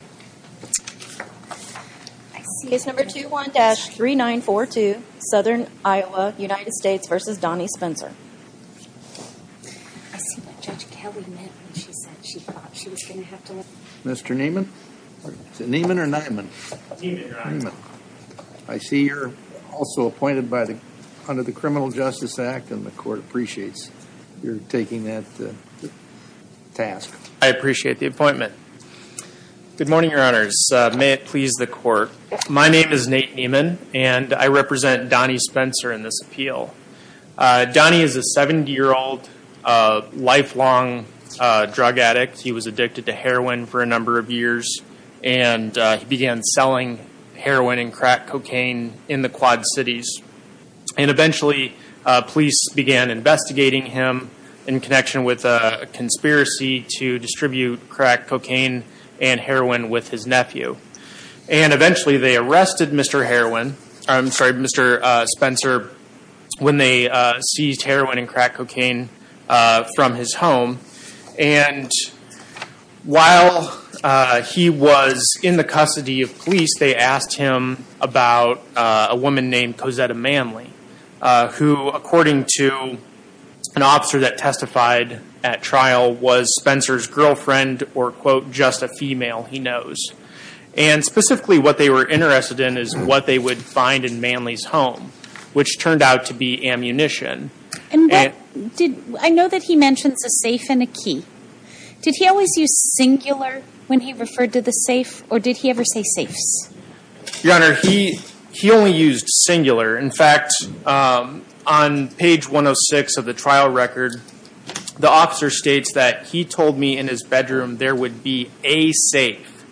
I see you're also appointed under the Criminal Justice Act and the court appreciates you're taking that task. I appreciate the appointment. Good morning your honors. May it please the court. My name is Nate Nieman and I represent Donnie Spencer in this appeal. Donnie is a 70 year old lifelong drug addict. He was addicted to heroin for a number of years and he began selling heroin and crack cocaine in the Quad Cities and eventually police began investigating him in connection with a conspiracy to distribute crack cocaine and heroin with his nephew and eventually they arrested Mr. heroin I'm sorry Mr. Spencer when they seized heroin and crack cocaine from his home and while he was in the custody of police they asked him about a woman named Cosetta Manley who according to an officer that testified at trial was Spencer's girlfriend or quote just a female he knows and specifically what they were interested in is what they would find in Manley's home which turned out to be ammunition. I know that he mentions a safe and a key. Did he always use singular when he referred to the safe or did he ever say safes? Your honor he only used singular in fact on page 106 of the trial record the officer states that he told me in his bedroom there would be a safe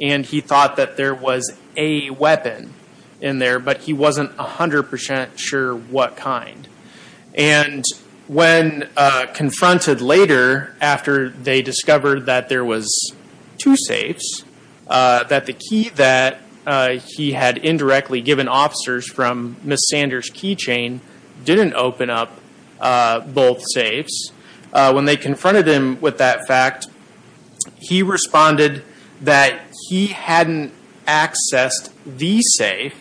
and he thought that there was a weapon in there but he wasn't a hundred percent sure what kind and when confronted later after they discovered that there was two safes that the key that he had indirectly given officers from Miss Sanders keychain didn't open up both safes when they confronted him with that fact he responded that he hadn't accessed the safe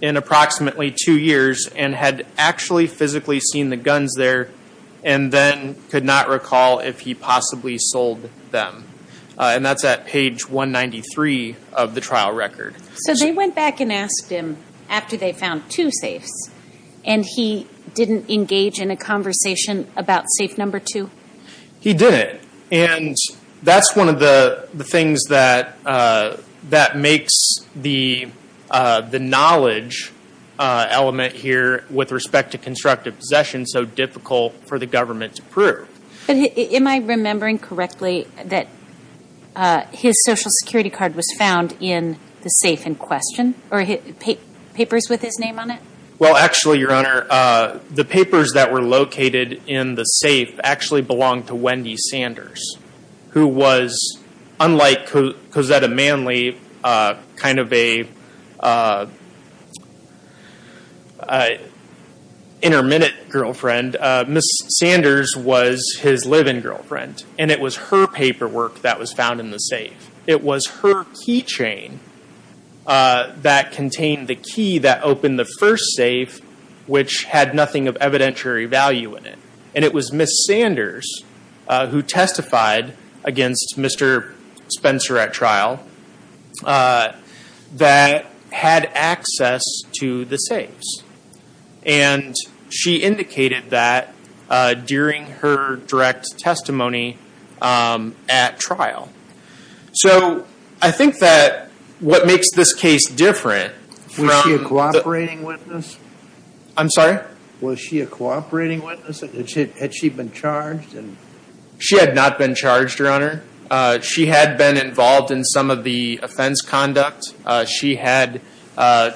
in approximately two years and had actually physically seen the guns there and then could not recall if he possibly sold them and that's at page 193 of the trial record. So they went back and asked him after they found two safes and he didn't engage in a conversation about safe number two? He didn't and that's one of the things that makes the knowledge element here with respect to constructive possession so difficult for the government to prove. Am I remembering correctly that his social security card was found in the safe in question or papers with his name on it? Well actually your honor the papers that were located in the safe actually belonged to Wendy Sanders who was unlike Cosetta Manley kind of a intermittent girlfriend Miss Sanders was his live-in girlfriend and it was her keychain that contained the key that opened the first safe which had nothing of evidentiary value in it and it was Miss Sanders who testified against Mr. Spencer at trial that had access to the safes and she indicated that during her I think that what makes this case different. Was she a cooperating witness? I'm sorry? Was she a cooperating witness? Had she been charged? She had not been charged your honor. She had been involved in some of the offense conduct. She had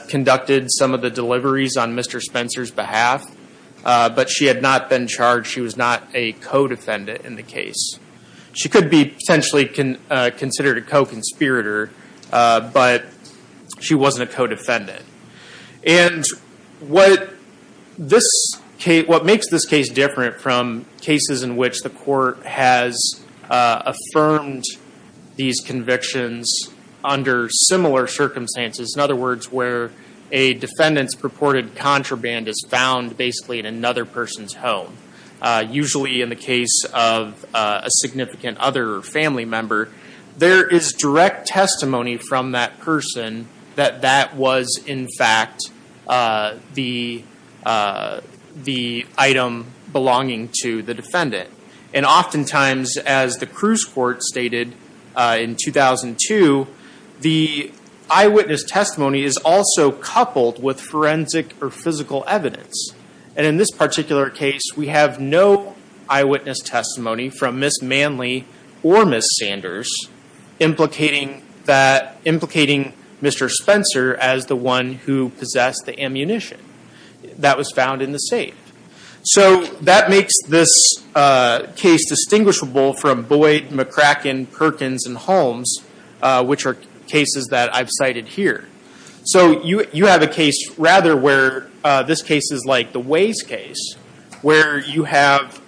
conducted some of the deliveries on Mr. Spencer's behalf but she had not been charged. She was not a co-defendant in the case. She could be potentially considered a co-conspirator but she wasn't a co-defendant and what this case what makes this case different from cases in which the court has affirmed these convictions under similar circumstances in other words where a defendant's purported contraband is found basically in another person's home usually in the testimony from that person that that was in fact the the item belonging to the defendant and oftentimes as the Cruz court stated in 2002 the eyewitness testimony is also coupled with forensic or physical evidence and in this particular case we have no eyewitness testimony from Miss Manley or Miss Sanders implicating that implicating Mr. Spencer as the one who possessed the ammunition that was found in the safe so that makes this case distinguishable from Boyd, McCracken, Perkins and Holmes which are cases that I've cited here so you you have a case rather where this case is like the Ways case where you have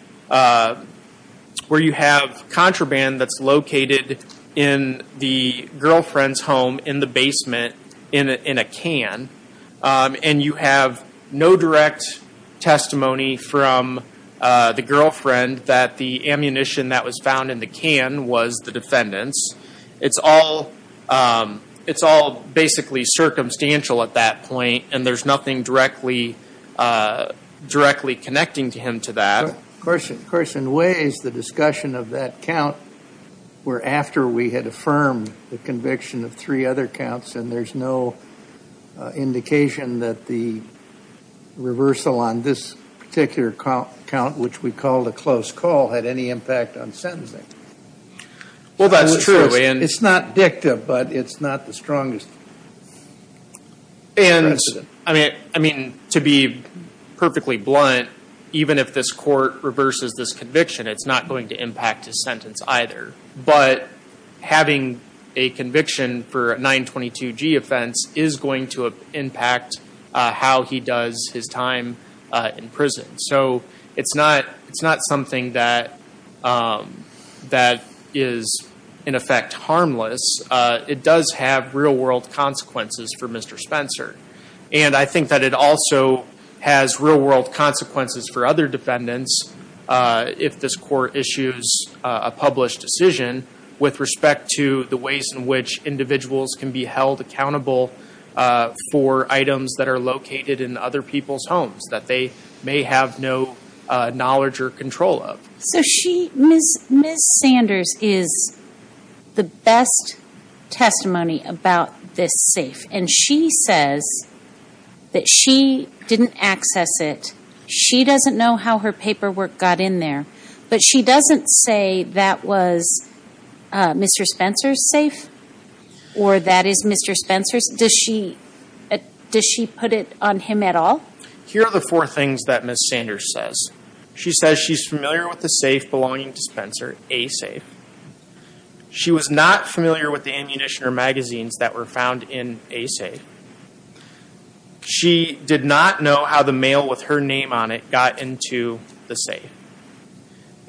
where you have contraband that's located in the girlfriend's home in the basement in a can and you have no direct testimony from the girlfriend that the ammunition that was found in the can was the defendant's it's all it's all basically circumstantial at that point and there's nothing directly directly connecting to him to that. Of course in Ways the discussion of that count were after we had affirmed the conviction of three other counts and there's no indication that the reversal on this particular count which we called a close call had any impact on sentencing. Well that's true. It's not addictive but it's not the strongest and I mean to be perfectly blunt even if this court reverses this conviction it's not going to impact his sentence either but having a conviction for a 922g offense is going to impact how he does his time in prison so it's not it's not something that that is in effect harmless it does have real-world consequences for Mr. Spencer and I think that it also has real-world consequences for other defendants if this court issues a published decision with respect to the ways in which individuals can be held accountable for items that are located in other people's homes that they may have no knowledge or control of. So she, Ms. Sanders is the best testimony about this safe and she says that she didn't access it she doesn't know how her paperwork got in there but she doesn't say that was Mr. Spencer's safe or that is Mr. Spencer's. Does she does she put it on him at all? Here are the four things that Ms. Sanders says. She says she's familiar with the safe belonging to Spencer, A safe. She was not familiar with the ammunition or magazines that were found in A safe. She did not know how the mail with her name on it got into the safe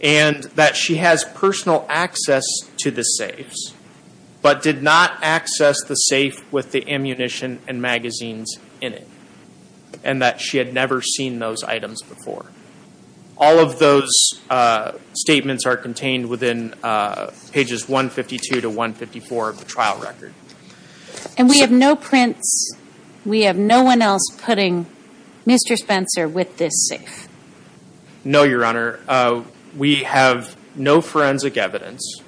and that she has personal access to the safes but did not access the safe with the ammunition and magazines in it and that she had never seen those items before. All of those statements are contained within pages 152 to 154 of the trial record. And we have no prints, we have no one else putting Mr. Spencer with this safe? No, Your Honor. We have no forensic evidence.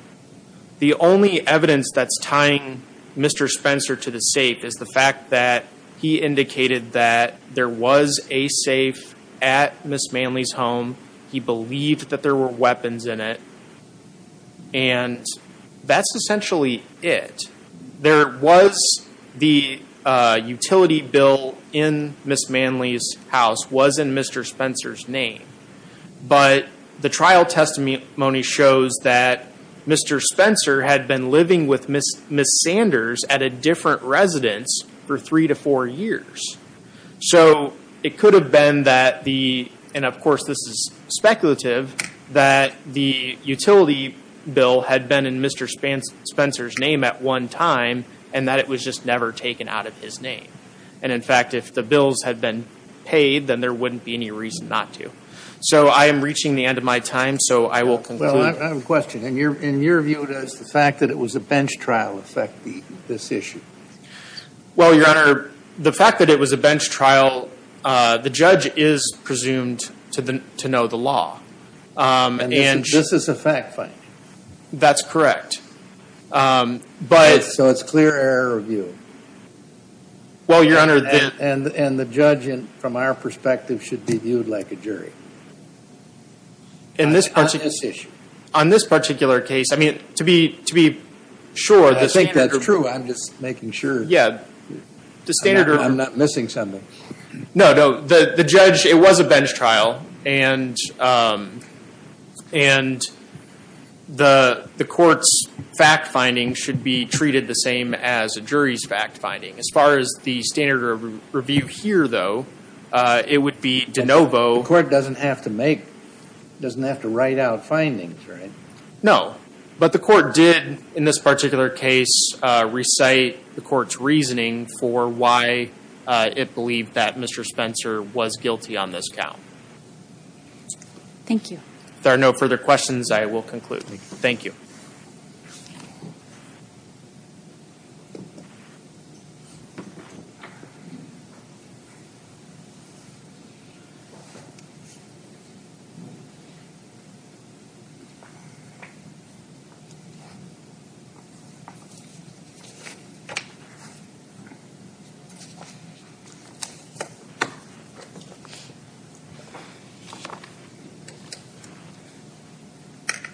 The only evidence that's tying Mr. Spencer to the safe is the fact that he found the safe at Ms. Manley's home. He believed that there were weapons in it and that's essentially it. There was the utility bill in Ms. Manley's house was in Mr. Spencer's name but the trial testimony shows that Mr. Spencer had been living with Ms. Sanders at a different residence for three to four years. So it could have been that the, and of course this is speculative, that the utility bill had been in Mr. Spencer's name at one time and that it was just never taken out of his name. And in fact if the bills had been paid then there wouldn't be any reason not to. So I am reaching the end of my time so I will conclude. Well, I have a question. In your view, does the fact that it was a bench trial affect this issue? Well, Your Honor, the fact that it was a bench trial, the judge is presumed to know the law. And this is a fact finding? That's correct. But so it's clear error of view? Well, Your Honor. And the judge, from our perspective, should be viewed like a jury? On this issue? On this particular case, I mean to be sure. I think that's true. I'm just making sure. Yeah. I'm not missing something. No, no. The judge, it was a bench trial and the court's fact finding should be treated the same as a jury's fact finding. As far as the standard review here though, it would be de novo. The court doesn't have to make, doesn't have to write out findings, right? No, but the court did, in this particular case, recite the court's reasoning for why it believed that Mr. Spencer was guilty on this count. Thank you. If there are no further questions, I will conclude. Thank you.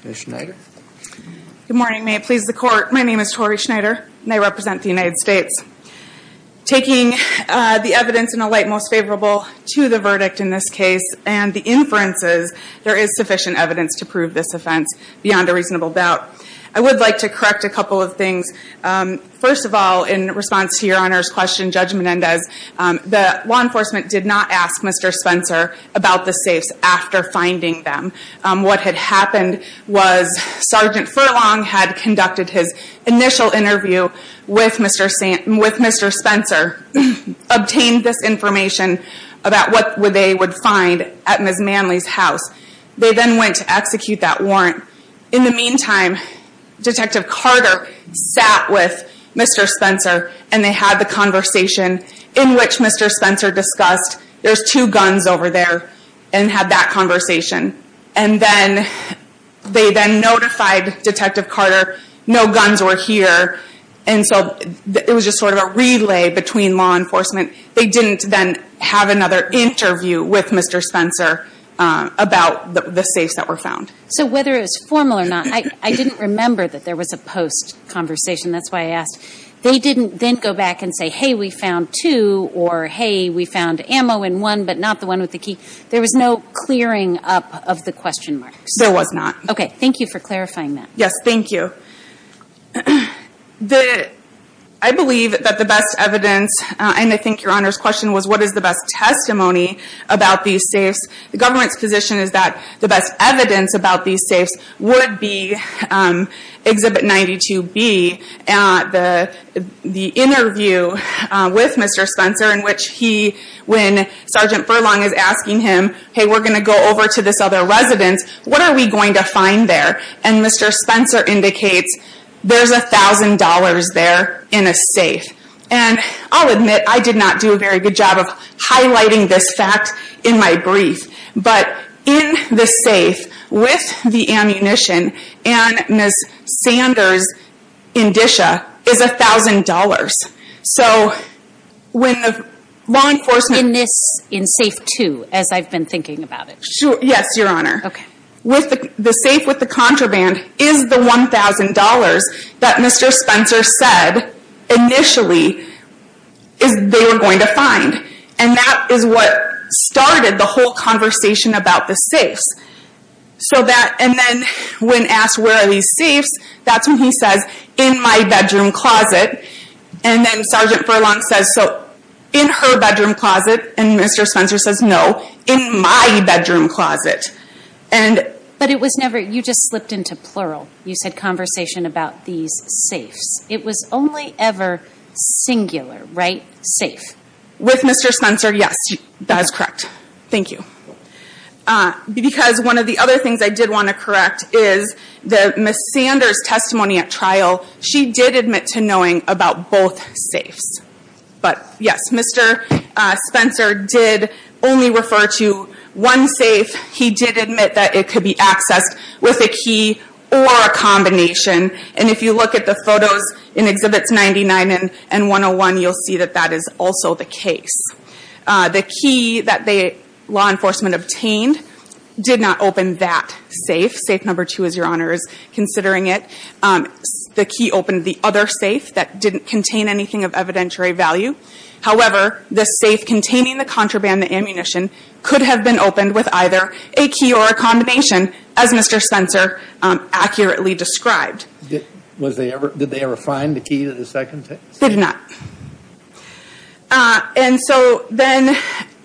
Ms. Schneider? Good morning. May it please the court, my name is Tori Schneider and I represent the United States. Taking the evidence in a light most favorable to the verdict in this case and the inferences, there is sufficient evidence to prove this offense beyond a reasonable doubt. I would like to correct a couple of things. First of all, in response to your Honor's question, Judge Menendez, the law enforcement did not ask Mr. Spencer about the safes after finding them. What had happened was Sergeant Furlong had conducted his initial interview with Mr. Spencer, obtained this information about what they would find at Ms. Manley's house. They then went to execute that warrant. In the meantime, Detective Carter sat with Mr. Spencer and they had the conversation in which Mr. Spencer discussed, there's two guns over there, and had that conversation. And then they then notified Detective Carter, no guns were here, and so it was just sort of a relay between law enforcement. They didn't then have another interview with Mr. Spencer about the safes that were found. So whether it was formal or not, I didn't remember that there was a post-conversation, that's why I asked. They didn't then go back and say, hey, we found two, or hey, we found ammo in one, but not the one with the key. There was no clearing up of the question marks? There was not. Okay, thank you for clarifying that. Yes, thank you. I believe that the best evidence, and I think your Honor's question was, what is the best testimony about these safes? The government's position is that the best evidence about these safes would be Exhibit 92B, the interview with Mr. Spencer in which he, when Sergeant Furlong is asking him, hey, we're going to go over to this other residence, what are we going to find there? And Mr. Spencer indicates there's a thousand dollars there in a safe. And I'll admit, I did not do a very good job of highlighting this fact in my brief, but in the safe with the ammunition and Ms. Sanders' indicia is a thousand dollars. So when the law enforcement... In this, in Safe 2, as I've been thinking about it. Yes, your contraband is the $1,000 that Mr. Spencer said initially they were going to find. And that is what started the whole conversation about the safes. So that, and then when asked, where are these safes? That's when he says, in my bedroom closet. And then Sergeant Furlong says, so in her bedroom closet? And Mr. Spencer says, in my bedroom closet. And... But it was never, you just slipped into plural. You said conversation about these safes. It was only ever singular, right? Safe. With Mr. Spencer, yes, that is correct. Thank you. Because one of the other things I did want to correct is that Ms. Sanders' testimony at trial, she did admit to knowing about both safes. But yes, Mr. Spencer did only refer to one safe. He did admit that it could be accessed with a key or a combination. And if you look at the photos in Exhibits 99 and 101, you'll see that that is also the case. The key that the law enforcement obtained did not open that safe. Safe number two, as your Honor is considering it. The key opened the other safe that didn't contain anything of evidentiary value. However, the safe containing the contraband ammunition could have been opened with either a key or a combination, as Mr. Spencer accurately described. Did they ever find the key to the second safe? They did not. And so then,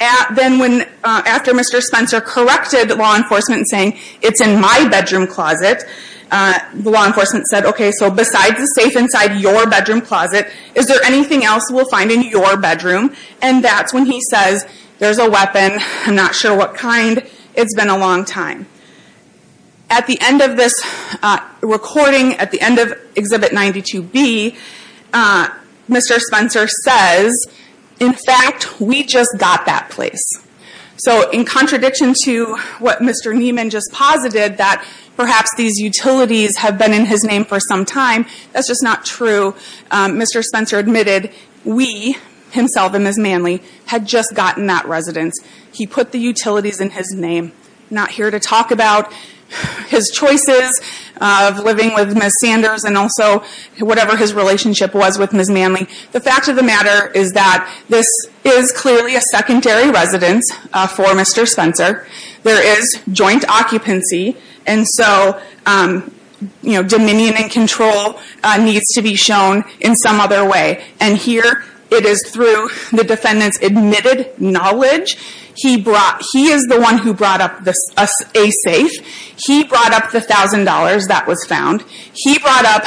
after Mr. Spencer corrected law enforcement saying, it's in my bedroom closet, the law enforcement said, okay, so besides the safe inside your bedroom closet, is there anything else we'll find in your bedroom? And that's when he says, there's a weapon. I'm not sure what kind. It's been a long time. At the end of this recording, at the end of Exhibit 92B, Mr. Spencer says, in fact, we just got that place. So in contradiction to what Mr. Niemann just posited, that perhaps these utilities have been in his name for some time, that's just not true. Mr. Spencer admitted, we, himself and Ms. Manley, had just gotten that residence. He put the utilities in his name. Not here to talk about his choices of living with Ms. Sanders and also whatever his relationship was with Ms. Manley. The fact of the matter is that this is clearly a secondary residence for Mr. Spencer. There is joint occupancy, and so, you know, dominion and control needs to be shown in some other way. And here, it is through the defendant's admitted knowledge, he brought, he is the one who brought up a safe. He brought up the $1,000 that was found. He brought up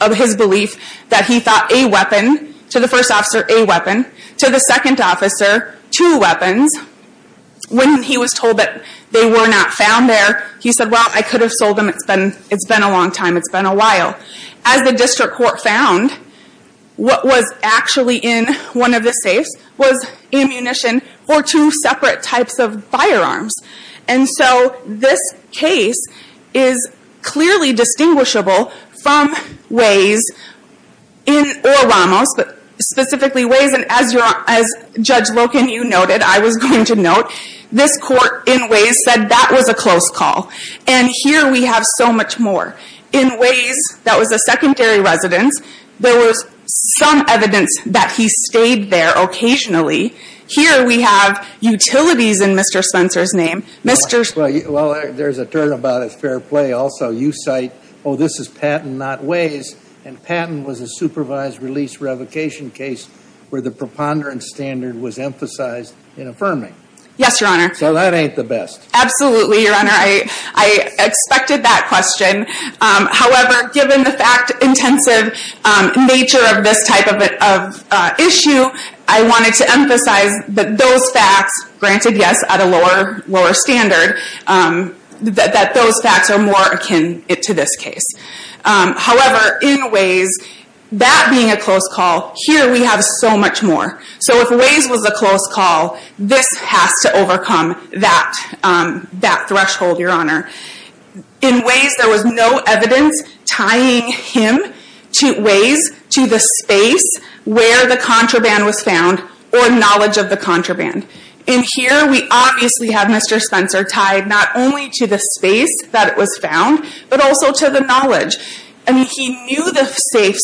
of his belief that he thought a weapon, to the first officer, a weapon. To the second officer, two weapons. When he was told that they were not found there, he said, well, I could have sold them. It's been a long time. It's been a while. As the district court found, what was actually in one of the safes was ammunition for two separate types of firearms. And so, this case is clearly distinguishable from Waze, or Ramos, but specifically Waze. And as Judge Loken, you noted, I was going to note, this court, in Waze, said that was a close call. And here, we have so much more. In Waze, that was a secondary residence. There was some evidence that he stayed there occasionally. Here, we have utilities in Mr. Spencer's name. Mr. Well, there's a turnabout at fair play also. You cite, oh, this is Patton, not Waze. And Patton was a supervised release revocation case where the preponderance standard was emphasized in affirming. Yes, Your Honor. So, that ain't the best. Absolutely, Your Honor. I expected that question. However, given the fact-intensive nature of this type of issue, I wanted to emphasize that those facts, granted, yes, at a lower standard, that those facts are more akin to this case. However, in Waze, that being a close call, here, we have so much more. So, if Waze was a close call, this has to overcome that threshold, Your Honor. In Waze, there was no evidence tying him to Waze, to the space where the contraband was found, or knowledge of the contraband. In here, we obviously have Mr. Spencer tied not only to the space that it was found, but also to the knowledge. I mean, he knew the safe,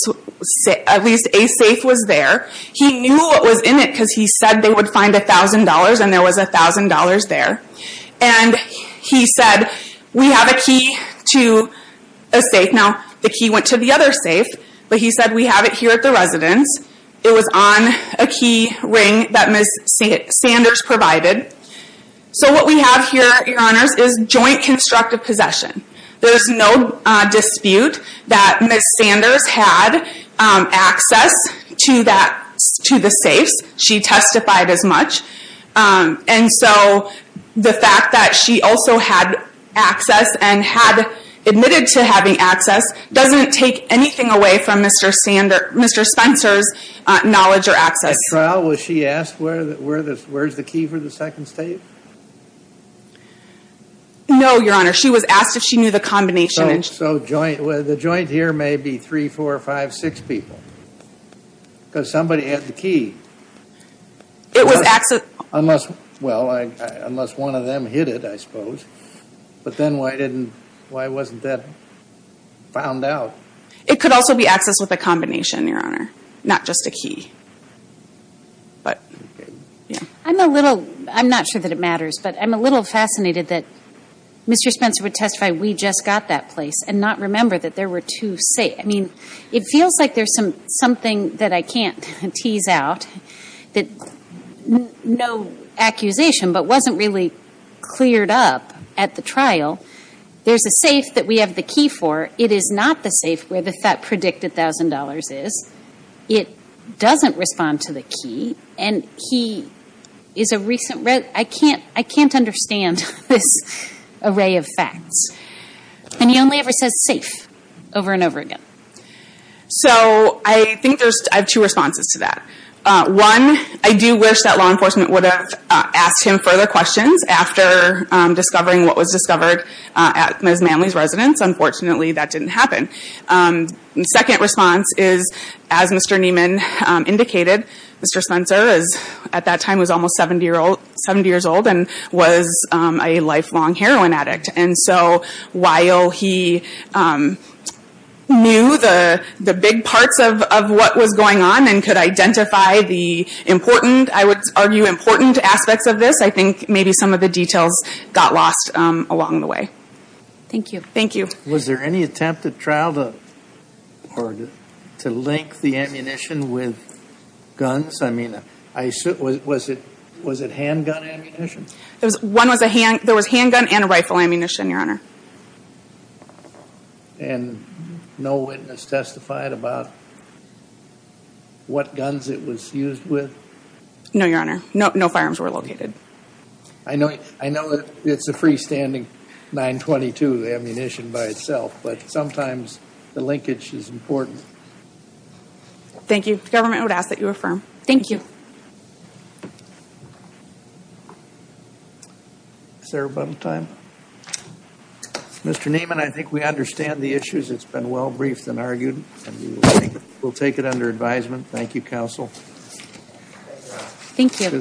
at least a safe was there. He knew what was in it because he said they would find $1,000 and there was $1,000 there. And he said, we have a key to a safe. Now, the key went to the other safe, but he said, we have it here at the residence. It was on a key ring that Ms. Sanders provided. So, what we have here, Your Honors, is joint constructive possession. There's no dispute that Ms. Sanders had access to the safes. She testified as much. And so, the fact that she also had access, and had admitted to having access, doesn't take anything away from Mr. Spencer's knowledge or access. At trial, was she asked, where's the key for the second safe? No, Your Honor. She was asked if she knew the combination. So, the joint here may be three, four, five, six people. Because somebody had the key. It was access... Unless, well, unless one of them hid it, I suppose. But then why wasn't that found out? It could also be access with a combination, Your Honor. Not just a key. But, yeah. I'm a little, I'm not sure that it matters, but I'm a little fascinated that Mr. Spencer would testify, we just got that place, and not remember that there were two safes. I mean, it feels like there's something that I can't tease out, that no accusation, but wasn't really cleared up at the trial. There's a safe that we have the key for. It is not the safe where the predicted thousand dollars is. It doesn't respond to the key. And he is a recent, I can't, I can't understand this array of facts. And he only ever says safe over and over again. So, I think there's, I have two responses to that. One, I do wish that law enforcement would ask him further questions after discovering what was discovered at Ms. Manley's residence. Unfortunately, that didn't happen. Second response is, as Mr. Neiman indicated, Mr. Spencer is, at that time, was almost 70 years old, and was a lifelong heroin addict. And so, while he knew the big parts of what was going on, and could identify the important, I would argue important aspects of this, I think maybe some of the details got lost along the way. Thank you. Thank you. Was there any attempt at trial to link the ammunition with guns? I mean, was it handgun ammunition? There was handgun and rifle ammunition, Your Honor. And no witness testified about what guns it was used with? No, Your Honor. No firearms were located. I know, I know that it's a freestanding 922 ammunition by itself, but sometimes the linkage is important. Thank you. Government would ask that you affirm. Thank you. Is there a button time? Mr. Neiman, I think we understand the issues. It's been well briefed and argued, and we'll take it under advisement. Thank you, counsel. Thank you.